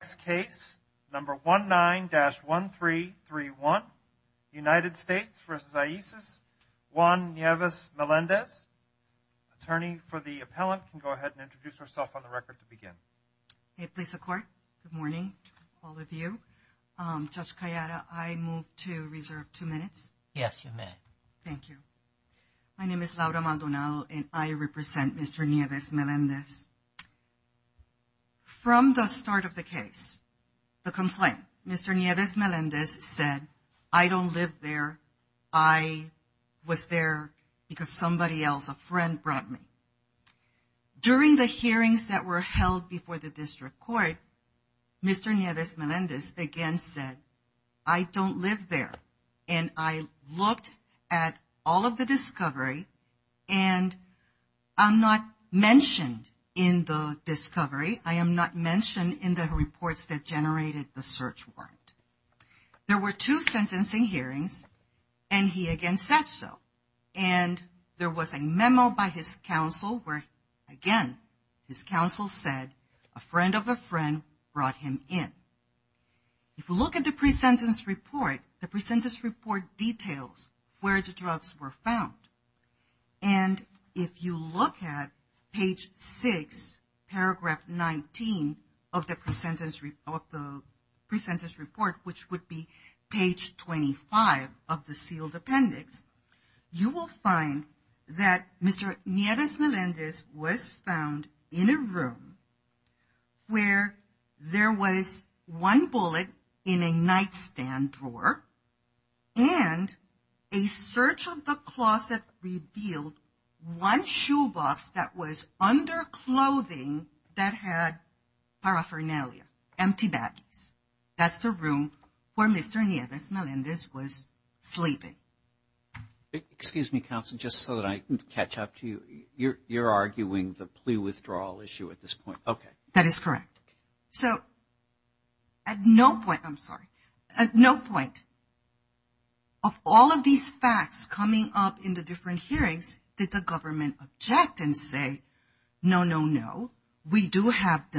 This case, number 19-1331, United States v. Isis, Juan Nieves-Melendez. Attorney for the appellant can go ahead and introduce herself on the record to begin. Hey, please, the court. Good morning to all of you. Judge Calleada, I move to reserve two minutes. Yes, you may. Thank you. My name is Laura Maldonado and I represent Mr. Nieves-Melendez. From the start of the case, the complaint, Mr. Nieves-Melendez said, I don't live there. I was there because somebody else, a friend, brought me. During the hearings that were held before the district court, Mr. Nieves-Melendez again said, I don't live there. And I looked at all of the discovery and I'm not mentioned. And in the discovery, I am not mentioned in the reports that generated the search warrant. There were two sentencing hearings and he again said so. And there was a memo by his counsel where, again, his counsel said, a friend of a friend brought him in. If you look at the pre-sentence report, the pre-sentence report details where the drugs were found. And if you look at page six, paragraph 19 of the pre-sentence report, which would be page 25 of the sealed appendix, you will find that Mr. Nieves-Melendez was found in a room where there was one bullet in a nightstand drawer and a search of the closet revealed one shoebox that was under clothing that had paraphernalia, empty baggies. That's the room where Mr. Nieves-Melendez was sleeping. Excuse me, counsel, just so that I can catch up to you. You're arguing the plea withdrawal issue at this point. Okay. That is correct. So at no point, I'm sorry, at no point of all of these facts coming up in the different hearings did the government object and say, no, no, no, we do have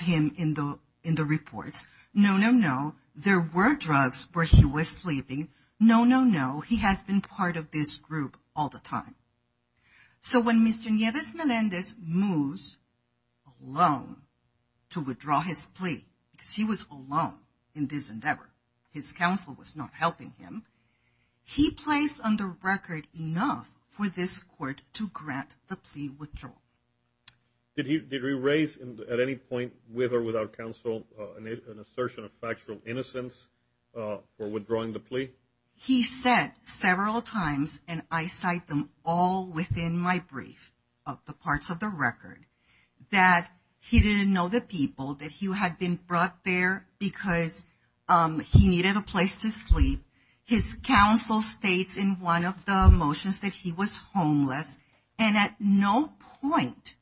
him in the reports. No, no, no, there were drugs where he was sleeping. No, no, no, he has been part of this group all the time. So when Mr. Nieves-Melendez moves alone to withdraw his plea, because he was alone in this endeavor, his counsel was not helping him, he placed on the record enough for this court to grant the plea withdrawal. Did he raise at any point, with or without counsel, an assertion of factual innocence for withdrawing the plea? He said several times, and I cite them all within my brief of the parts of the record, that he didn't know the people, that he had been brought there because he needed a place to sleep. His counsel states in one of the motions that he was homeless, and at no point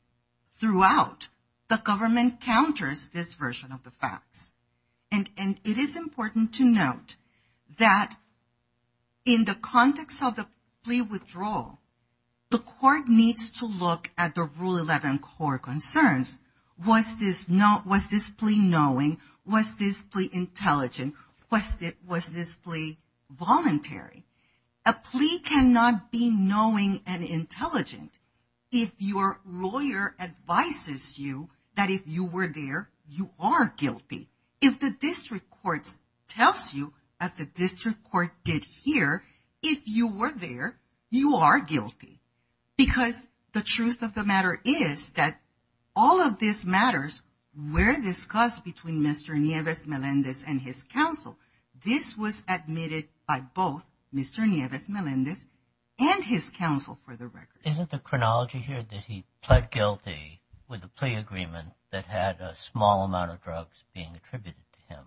throughout, the government counters this version of the facts. And it is important to note that in the context of the plea withdrawal, the court needs to look at the Rule 11 core concerns. Was this plea knowing? Was this plea intelligent? Was this plea voluntary? A plea cannot be knowing and intelligent if your lawyer advises you that if you were there, you are guilty. If the district courts tells you, as the district court did here, if you were there, you are guilty. Because the truth of the matter is that all of these matters were discussed between Mr. Nieves-Melendez and his counsel. This was admitted by both Mr. Nieves-Melendez and his counsel for the record. Isn't the chronology here that he pled guilty with a plea agreement that had a small amount of drugs being attributed to him?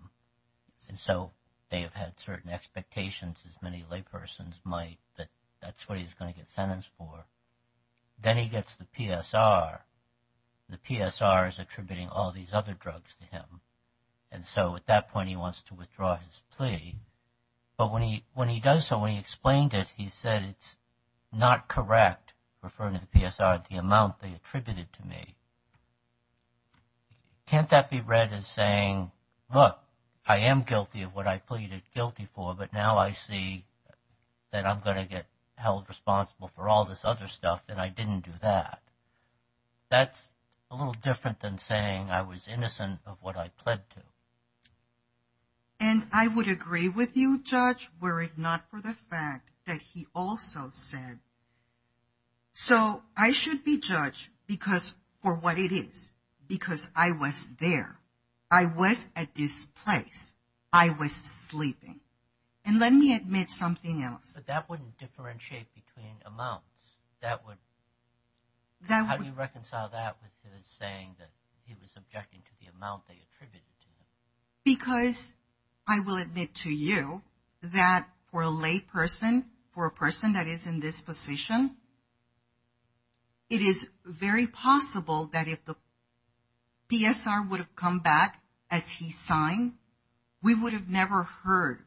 And so they have had certain expectations, as many laypersons might, that that's what he's going to get sentenced for. Then he gets the PSR. The PSR is attributing all these other drugs to him. And so at that point, he wants to withdraw his plea. But when he does so, when he explained it, he said it's not correct, referring to the PSR, the amount they attributed to me. Can't that be read as saying, look, I am guilty of what I pleaded guilty for, but now I see that I'm going to get held responsible for all this other stuff, and I didn't do that. That's a little different than saying I was innocent of what I pled to. And I would agree with you, Judge, were it not for the fact that he also said, so I should be judged because for what it is, because I was there, I was at this place, I was sleeping. And let me admit something else. But that wouldn't differentiate between amounts. How do you reconcile that with his saying that he was objecting to the amount they attributed to him? Because I will admit to you that for a lay person, for a person that is in this position, it is very possible that if the PSR would have come back as he signed, we would have never heard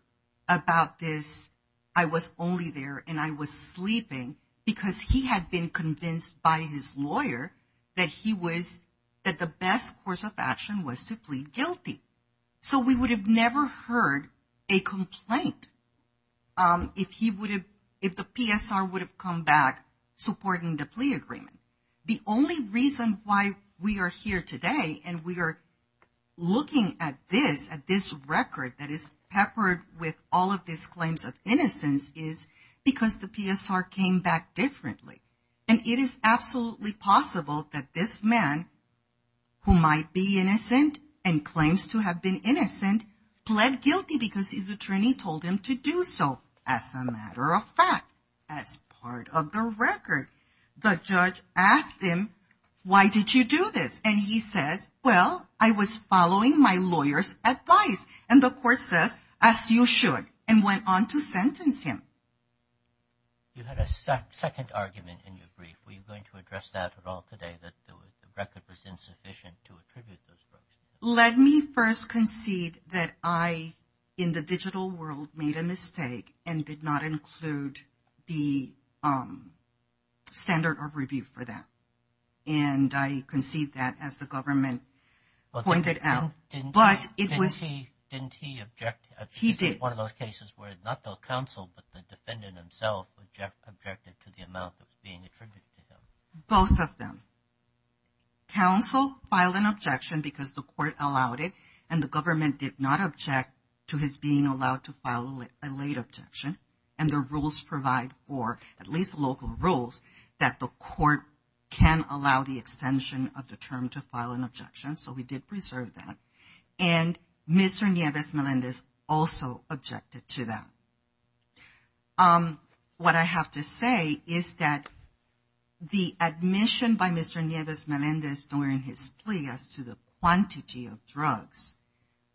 about this, I was only there and I was sleeping, because he had been convinced by his lawyer that he was, that the best course of action was to plead guilty. So we would have never heard a complaint if he would have, if the PSR would have come back supporting the plea agreement. The only reason why we are here today and we are looking at this, at this record that is peppered with all of these claims of innocence is because the PSR came back differently. And it is absolutely possible that this man, who might be innocent and claims to have been innocent, pled guilty because his attorney told him to do so as a matter of fact, as part of the record. The judge asked him, why did you do this? And he says, well, I was following my lawyer's advice. And the court says, as you should, and went on to sentence him. You had a second argument in your brief. Were you going to address that at all today, that the record was insufficient to attribute those words? Let me first concede that I, in the digital world, made a mistake and did not include the standard of review for that. And I concede that as the government pointed out. Well, didn't he object? He did. One of those cases where not the counsel, but the defendant himself objected to the amount that was being attributed to them. Both of them. Counsel filed an objection because the court allowed it. And the government did not object to his being allowed to file a late objection. And the rules provide for, at least local rules, that the court can allow the extension of the term to file an objection. So we did reserve that. And Mr. Nieves-Melendez also objected to that. What I have to say is that the admission by Mr. Nieves-Melendez during his plea as to the quantity of drugs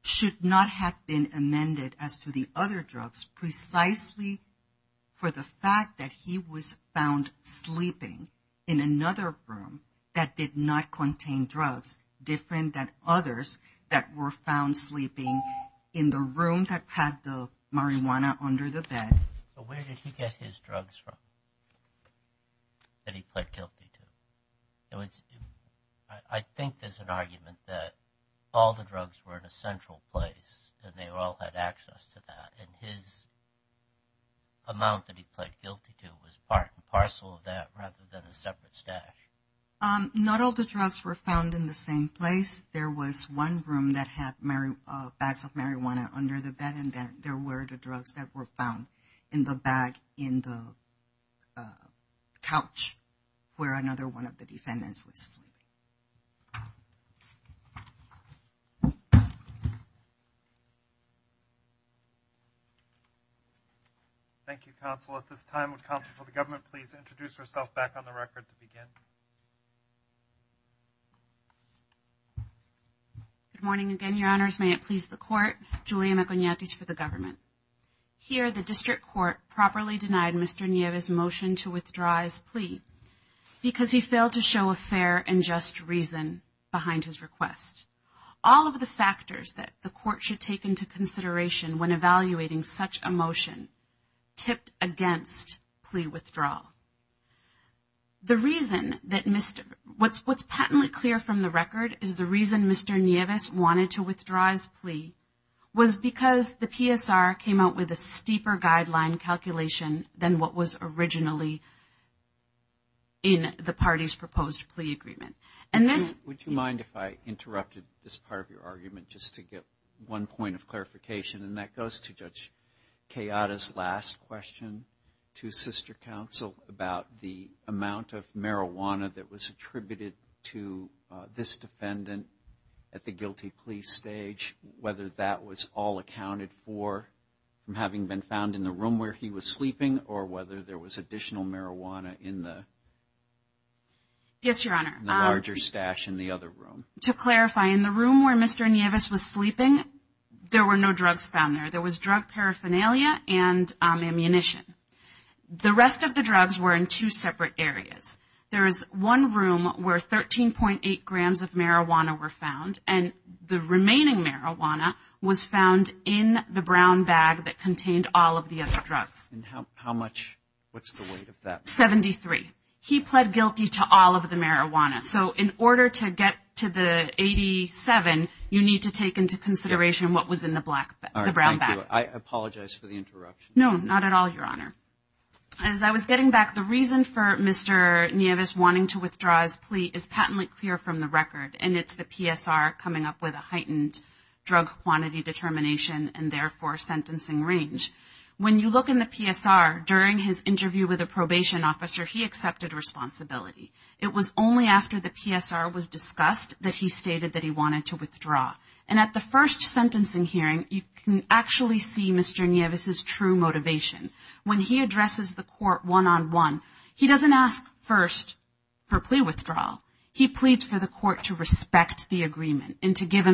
should not have been amended as to the other drugs, precisely for the fact that he was found sleeping in another room that did not contain drugs different than others that were found sleeping in the room that had the marijuana under the bed. But where did he get his drugs from that he pled guilty to? I think there's an argument that all the drugs were in a central place and they all had access to that. And his amount that he pled guilty to was part and parcel of that rather than a separate stash. Not all the drugs were found in the same place. There was one room that had bags of marijuana under the bed and there were the drugs that were found in the bag in the couch where another one of the defendants was sleeping. Thank you, counsel. At this time, would counsel for the government please introduce herself back on the record to begin? Good morning again, your honors. May it please the court, Julia Maconiatis for the government. Here, the district court properly denied Mr. Nieves' motion to withdraw his plea because he failed to show a fair and just reason behind his request. All of the factors that the court should take into consideration when evaluating such a motion tipped against plea withdrawal. What's patently clear from the record is the reason Mr. Nieves wanted to withdraw his plea was because the PSR came out with a steeper guideline calculation than what was originally in the party's proposed plea agreement. Would you mind if I interrupted this part of your argument just to get one point of clarification and that goes to Judge Chiara's last question to sister counsel about the amount of marijuana that was attributed to this defendant at the guilty plea stage, whether that was all accounted for from having been found in the room where he was sleeping or whether there was additional marijuana in the larger stash in the other room? To clarify, in the room where Mr. Nieves was sleeping, there were no drugs found there. There was drug paraphernalia and ammunition. The rest of the drugs were in two separate areas. There is one room where 13.8 grams of marijuana were found and the remaining marijuana was found in the brown bag that contained all of the other drugs. How much? What's the weight of that? 73. He pled guilty to all of the marijuana. So in order to get to the 87, you need to take into consideration what was in the brown bag. I apologize for the interruption. No, not at all, Your Honor. As I was getting back, the reason for Mr. Nieves wanting to withdraw his plea is patently clear from the record and it's the PSR coming up with a heightened drug quantity determination and therefore sentencing range. When you look in the PSR, during his interview with a probation officer, he accepted responsibility. It was only after the PSR was discussed that he stated that he wanted to withdraw. And at the first sentencing hearing, you can actually see Mr. Nieves' true motivation. When he addresses the court one-on-one, he doesn't ask first for plea withdrawal. He pleads for the court to respect the agreement and to give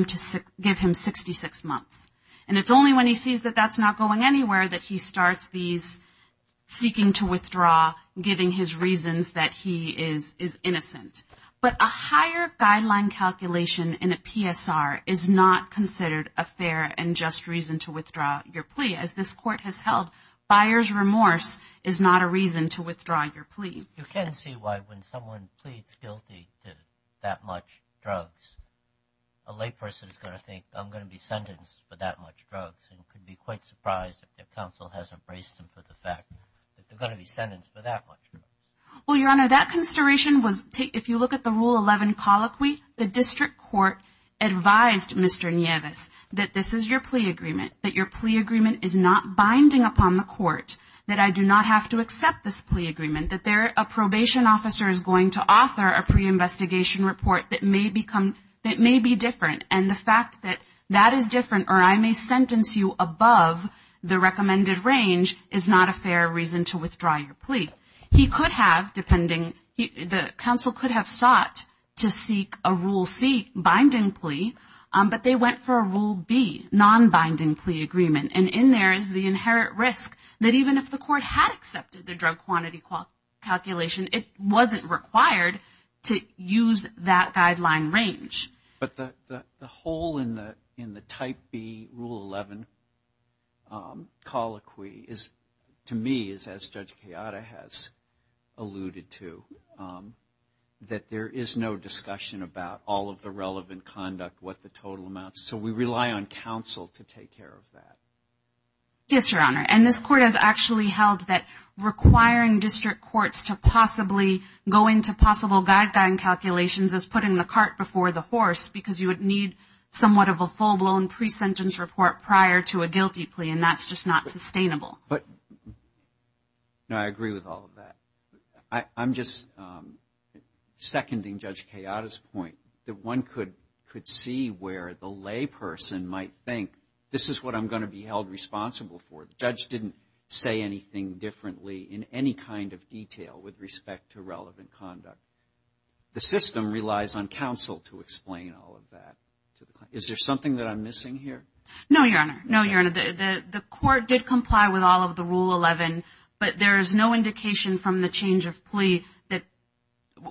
him 66 months. It's only when he sees that that's not going anywhere that he starts seeking to withdraw, giving his reasons that he is innocent. But a higher guideline calculation in a PSR is not considered a fair and just reason to withdraw your plea. As this court has held, buyer's remorse is not a reason to withdraw your plea. You can see why when someone pleads guilty to that much drugs, a layperson is going to think, and could be quite surprised if counsel hasn't braced them for the fact, that they're going to be sentenced for that much. Well, Your Honor, that consideration was, if you look at the Rule 11 colloquy, the district court advised Mr. Nieves that this is your plea agreement, that your plea agreement is not binding upon the court, that I do not have to accept this plea agreement, that a probation officer is going to author a pre-investigation report that may be different. And the fact that that is different or I may sentence you above the recommended range is not a fair reason to withdraw your plea. He could have, depending, the counsel could have sought to seek a Rule C, binding plea, but they went for a Rule B, non-binding plea agreement. And in there is the inherent risk that even if the court had accepted the drug quantity calculation, it wasn't required to use that guideline range. But the hole in the Type B Rule 11 colloquy is, to me, as Judge Kayada has alluded to, that there is no discussion about all of the relevant conduct, what the total amounts, so we rely on counsel to take care of that. Yes, Your Honor. And this court has actually held that requiring district courts to possibly go into possible guideline calculations is putting the cart before the horse, because you would need somewhat of a full-blown pre-sentence report prior to a guilty plea, and that's just not sustainable. No, I agree with all of that. I'm just seconding Judge Kayada's point that one could see where the layperson might think, this is what I'm going to be held responsible for. The judge didn't say anything differently in any kind of detail with respect to relevant conduct. The system relies on counsel to explain all of that. Is there something that I'm missing here? No, Your Honor. No, Your Honor. The court did comply with all of the Rule 11, but there is no indication from the change of plea that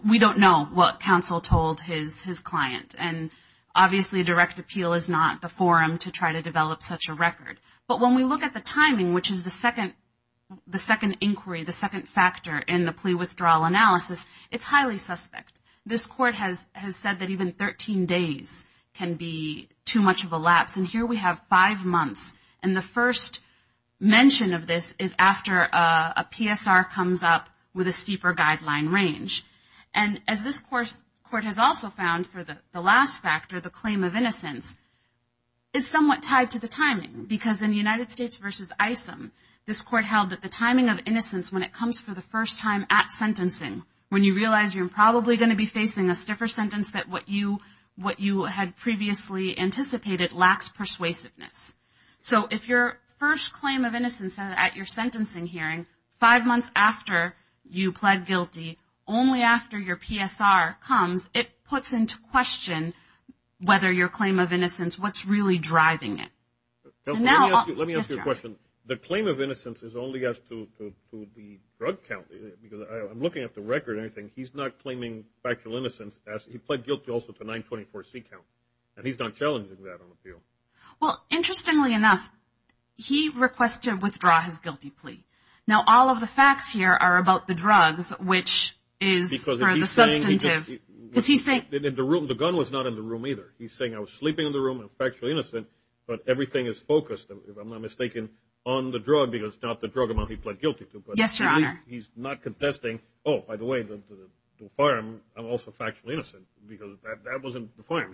we don't know what counsel told his client. And obviously, direct appeal is not the forum to try to develop such a record. But when we look at the timing, which is the second inquiry, the second factor in the plea withdrawal analysis, it's highly suspect. This court has said that even 13 days can be too much of a lapse. And here we have five months, and the first mention of this is after a PSR comes up with a steeper guideline range. And as this court has also found for the last factor, the claim of innocence, as in United States v. ISM, this court held that the timing of innocence when it comes for the first time at sentencing, when you realize you're probably going to be facing a stiffer sentence that what you had previously anticipated lacks persuasiveness. So if your first claim of innocence at your sentencing hearing, five months after you pled guilty, only after your PSR comes, it puts into question whether your claim of innocence, what's really driving it. Now, let me ask you a question. The claim of innocence is only asked to the drug count, because I'm looking at the record and everything. He's not claiming factual innocence. He pled guilty also to 924C count, and he's not challenging that on appeal. Well, interestingly enough, he requested to withdraw his guilty plea. Now, all of the facts here are about the drugs, which is for the substantive. Because he's saying, the gun was not in the room either. He's saying, I was sleeping in the room, I'm factually innocent, but everything is focused, if I'm not mistaken, on the drug, because it's not the drug amount he pled guilty to. Yes, Your Honor. He's not contesting, oh, by the way, the firearm, I'm also factually innocent, because that wasn't the firearm.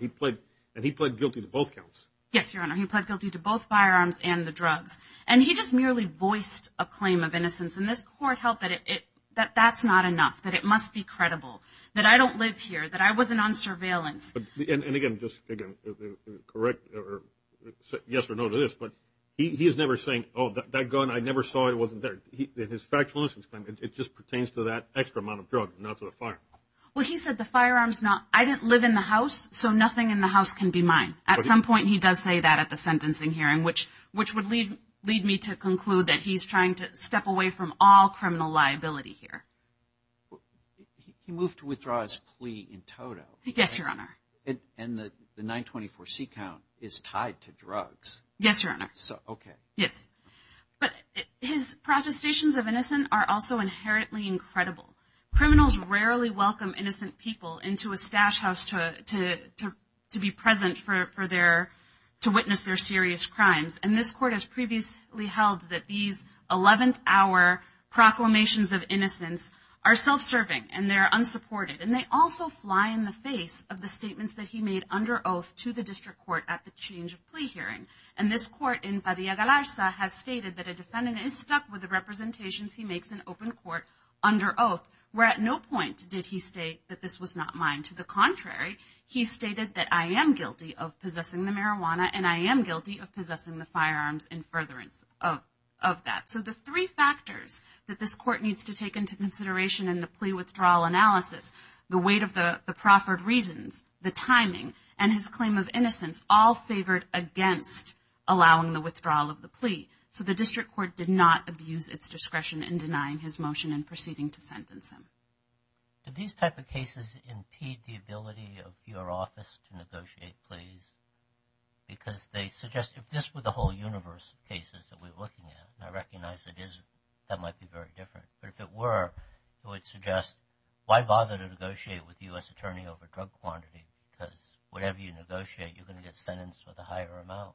And he pled guilty to both counts. Yes, Your Honor. He pled guilty to both firearms and the drugs. And he just merely voiced a claim of innocence. And this court held that that's not enough, that it must be credible, that I don't live here, that I wasn't on surveillance. And again, just correct, yes or no to this, but he is never saying, oh, that gun, I never saw it, it wasn't there. His factual innocence claim, it just pertains to that extra amount of drugs, not to the firearm. Well, he said the firearm's not, I didn't live in the house, so nothing in the house can be mine. At some point, he does say that at the sentencing hearing, which would lead me to conclude that he's trying to step away from all criminal liability here. Well, he moved to withdraw his plea in total. Yes, Your Honor. And the 924C count is tied to drugs. Yes, Your Honor. So, okay. Yes. But his protestations of innocence are also inherently incredible. Criminals rarely welcome innocent people into a stash house to be present for their, to witness their serious crimes. And this court has previously held that these 11th hour proclamations of innocence are self-serving and they're unsupported. And they also fly in the face of the statements that he made under oath to the district court at the change of plea hearing. And this court in Padilla-Galarza has stated that a defendant is stuck with the representations he makes in open court under oath, where at no point did he state that this was not mine. To the contrary, he stated that I am guilty of possessing marijuana and I am guilty of possessing the firearms in furtherance of that. So, the three factors that this court needs to take into consideration in the plea withdrawal analysis, the weight of the proffered reasons, the timing, and his claim of innocence all favored against allowing the withdrawal of the plea. So, the district court did not abuse its discretion in denying his motion in proceeding to sentence him. Did these type of cases impede the ability of your office to negotiate pleas? Because they suggest, if this were the whole universe of cases that we're looking at, and I recognize it is, that might be very different. But if it were, it would suggest, why bother to negotiate with the U.S. Attorney over drug quantity? Because whatever you negotiate, you're going to get sentenced with a higher amount.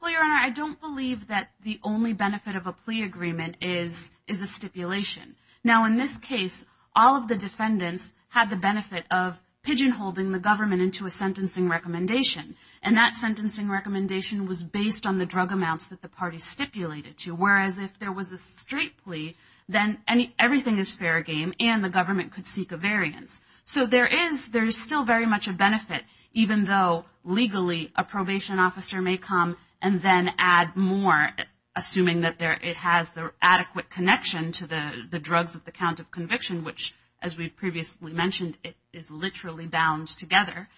Well, Your Honor, I don't believe that the only benefit of a plea agreement is a stipulation. Now, in this case, all of the defendants had the benefit of pigeon-holding the government into a sentencing recommendation. And that sentencing recommendation was based on the drug amounts that the party stipulated to. Whereas, if there was a straight plea, then everything is fair game and the government could seek a variance. So, there is still very much a benefit, even though, legally, a probation officer may come and then add more, assuming that it has the adequate connection to the drugs at the count of conviction, which, as we've previously mentioned, it is literally bound together.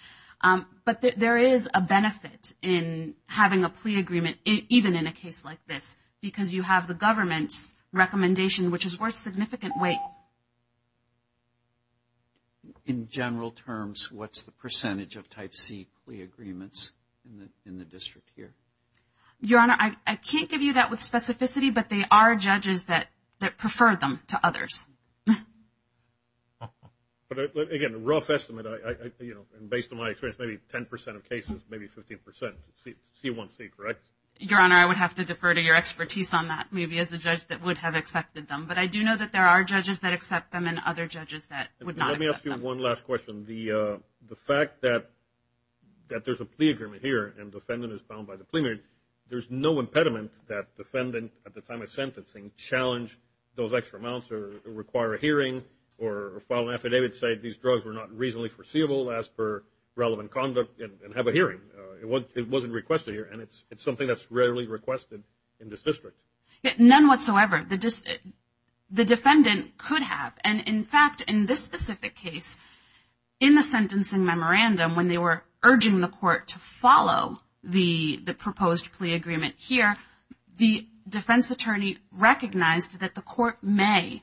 But there is a benefit in having a plea agreement, even in a case like this, because you have the government's recommendation, which is worth significant weight. In general terms, what's the percentage of type C plea agreements in the district here? Your Honor, I can't give you that with specificity, but they are judges that prefer them to others. But again, a rough estimate, you know, and based on my experience, maybe 10 percent of cases, maybe 15 percent, C1C, correct? Your Honor, I would have to defer to your expertise on that, maybe, as a judge that would have accepted them. But I do know that there are judges that accept them and other judges that would not accept them. Let me ask you one last question. The fact that there's a plea agreement here and defendant is bound by the plea agreement, there's no impediment that defendant, at the time of sentencing, challenge those extra amounts or require a hearing or file an affidavit, say these drugs were not reasonably foreseeable, ask for relevant conduct and have a hearing. It wasn't requested here and it's something that's requested in this district. None whatsoever. The defendant could have. And in fact, in this specific case, in the sentencing memorandum, when they were urging the court to follow the proposed plea agreement here, the defense attorney recognized that the court may,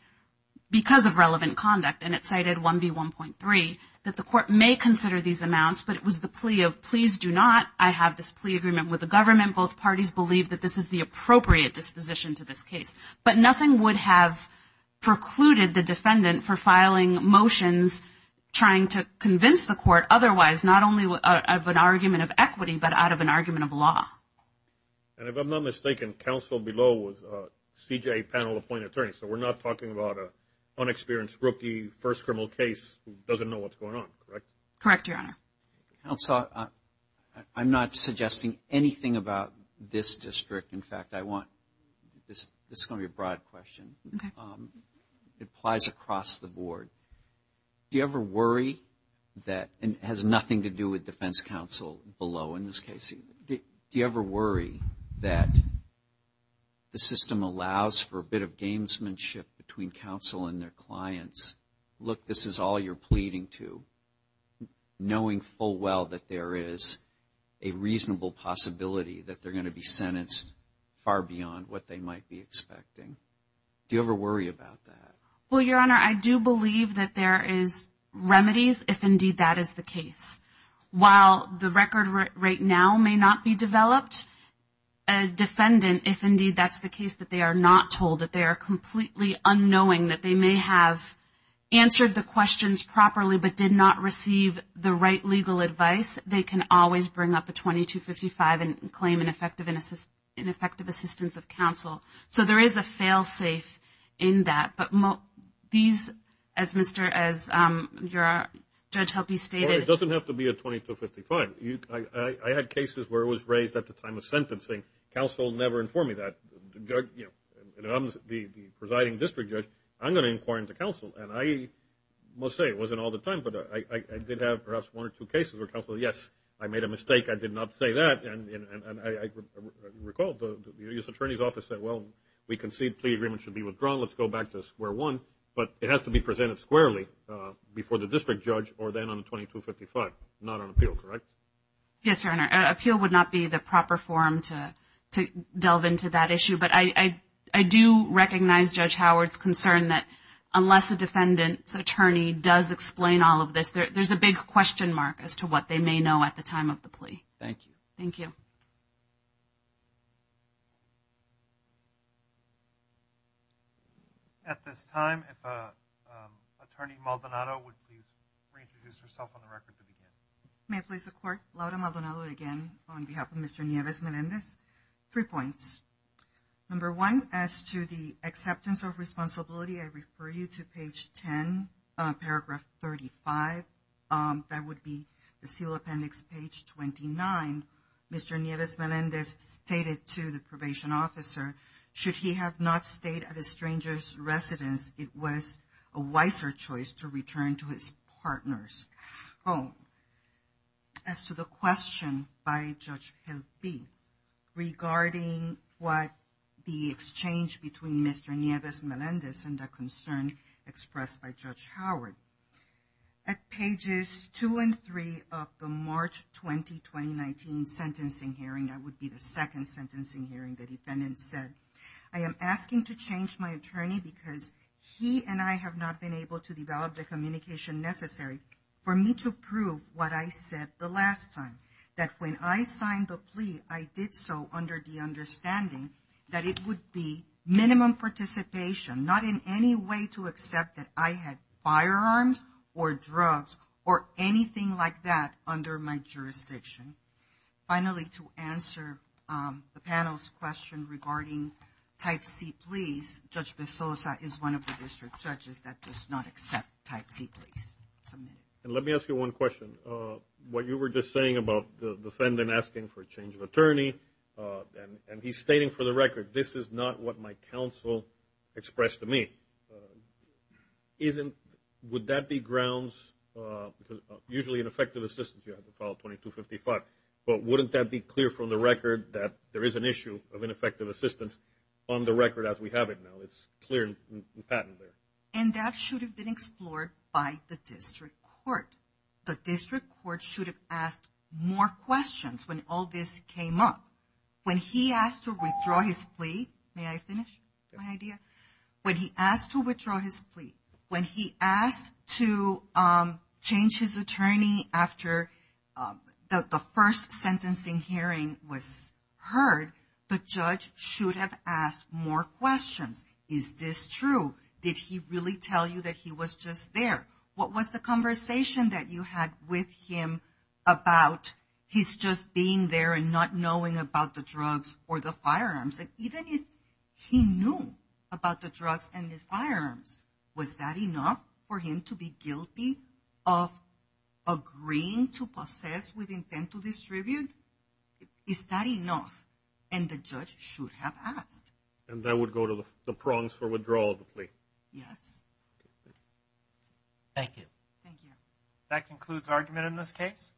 because of relevant conduct, and it cited 1B1.3, that the court may consider these amounts, but it was the plea of please do not, I have this plea agreement with the government, both parties believe that this is the appropriate disposition to this case. But nothing would have precluded the defendant for filing motions trying to convince the court otherwise, not only of an argument of equity, but out of an argument of law. And if I'm not mistaken, counsel below was a CJA panel appointed attorney. So we're not talking about an unexperienced rookie first criminal case who doesn't know what's going on, correct? Correct, Your Honor. Counsel, I'm not suggesting anything about this district. In fact, I want, this is going to be a broad question. It applies across the board. Do you ever worry that, and it has nothing to do with defense counsel below in this case, do you ever worry that the system allows for a bit of gamesmanship between counsel and their clients? Look, this is all you're pleading to, knowing full well that there is a reasonable possibility that they're going to be sentenced far beyond what they might be expecting. Do you ever worry about that? Well, Your Honor, I do believe that there is remedies if indeed that is the case. While the record right now may not be developed, a defendant, if indeed that's the case, that they are not told, that they are completely unknowing, that they may have answered the questions properly but did not receive the right legal advice, they can always bring up a 2255 and claim an effective assistance of counsel. So there is a fail-safe in that. But these, as Mr., as Judge Helpe stated- Well, it doesn't have to be a 2255. I had cases where it was raised at the time of sentencing. Counsel never informed me that. I'm the presiding district judge. I'm going to inquire into counsel. And I must say it wasn't all the time, but I did have perhaps one or two cases where counsel, yes, I made a mistake. I did not say that. And I recall the U.S. Attorney's Office said, well, we concede plea agreement should be withdrawn. Let's go back to square one. But it has to be presented squarely before the district judge or then on a 2255, not on appeal, correct? Yes, Your Honor. Appeal would not be the proper form to delve into that issue. But I do recognize Judge Howard's concern that unless a defendant's attorney does explain all of this, there's a big question mark as to what they may know at the time of the plea. Thank you. Thank you. At this time, if Attorney Maldonado would please introduce herself on the record to begin. May I please support? Laura Maldonado again on behalf of Mr. Nieves Melendez. Three points. Number one, as to the acceptance of responsibility, I refer you to page 10, paragraph 35. That would be the seal appendix page 29. Mr. Nieves Melendez stated to the probation officer, should he have not stayed at a stranger's residence, it was a wiser choice to return to his partner's home. As to the question by Judge Gilby regarding what the exchange between Mr. Nieves Melendez and the concern expressed by Judge Howard, at pages two and three of the March 20, 2019 sentencing hearing, that would be the second able to develop the communication necessary for me to prove what I said the last time, that when I signed the plea, I did so under the understanding that it would be minimum participation, not in any way to accept that I had firearms or drugs or anything like that under my jurisdiction. Finally, to answer the panel's question regarding type C pleas, Judge Bezosa is one of the district judges that does not accept type C pleas. And let me ask you one question. What you were just saying about the defendant asking for a change of attorney, and he's stating for the record, this is not what my counsel expressed to me. Isn't, would that be grounds, usually ineffective assistance, you have to file 2255, but wouldn't that be clear from the record that there is an issue of ineffective assistance on the record as we have it now? It's clear and patent there. And that should have been explored by the district court. The district court should have asked more questions when all this came up. When he asked to withdraw his plea, may I finish my idea? When he asked to withdraw his plea, when he asked to change his attorney after the first sentencing hearing was heard, the judge should have asked more questions. Is this true? Did he really tell you that he was just there? What was the conversation that you had with him about he's just being there and not knowing about the drugs or the firearms? And even if he knew about the drugs and the firearms, was that enough for him to be guilty of agreeing to possess with Is that enough? And the judge should have asked. And that would go to the prongs for withdrawal of the plea. Yes. Thank you. Thank you. That concludes argument in this case.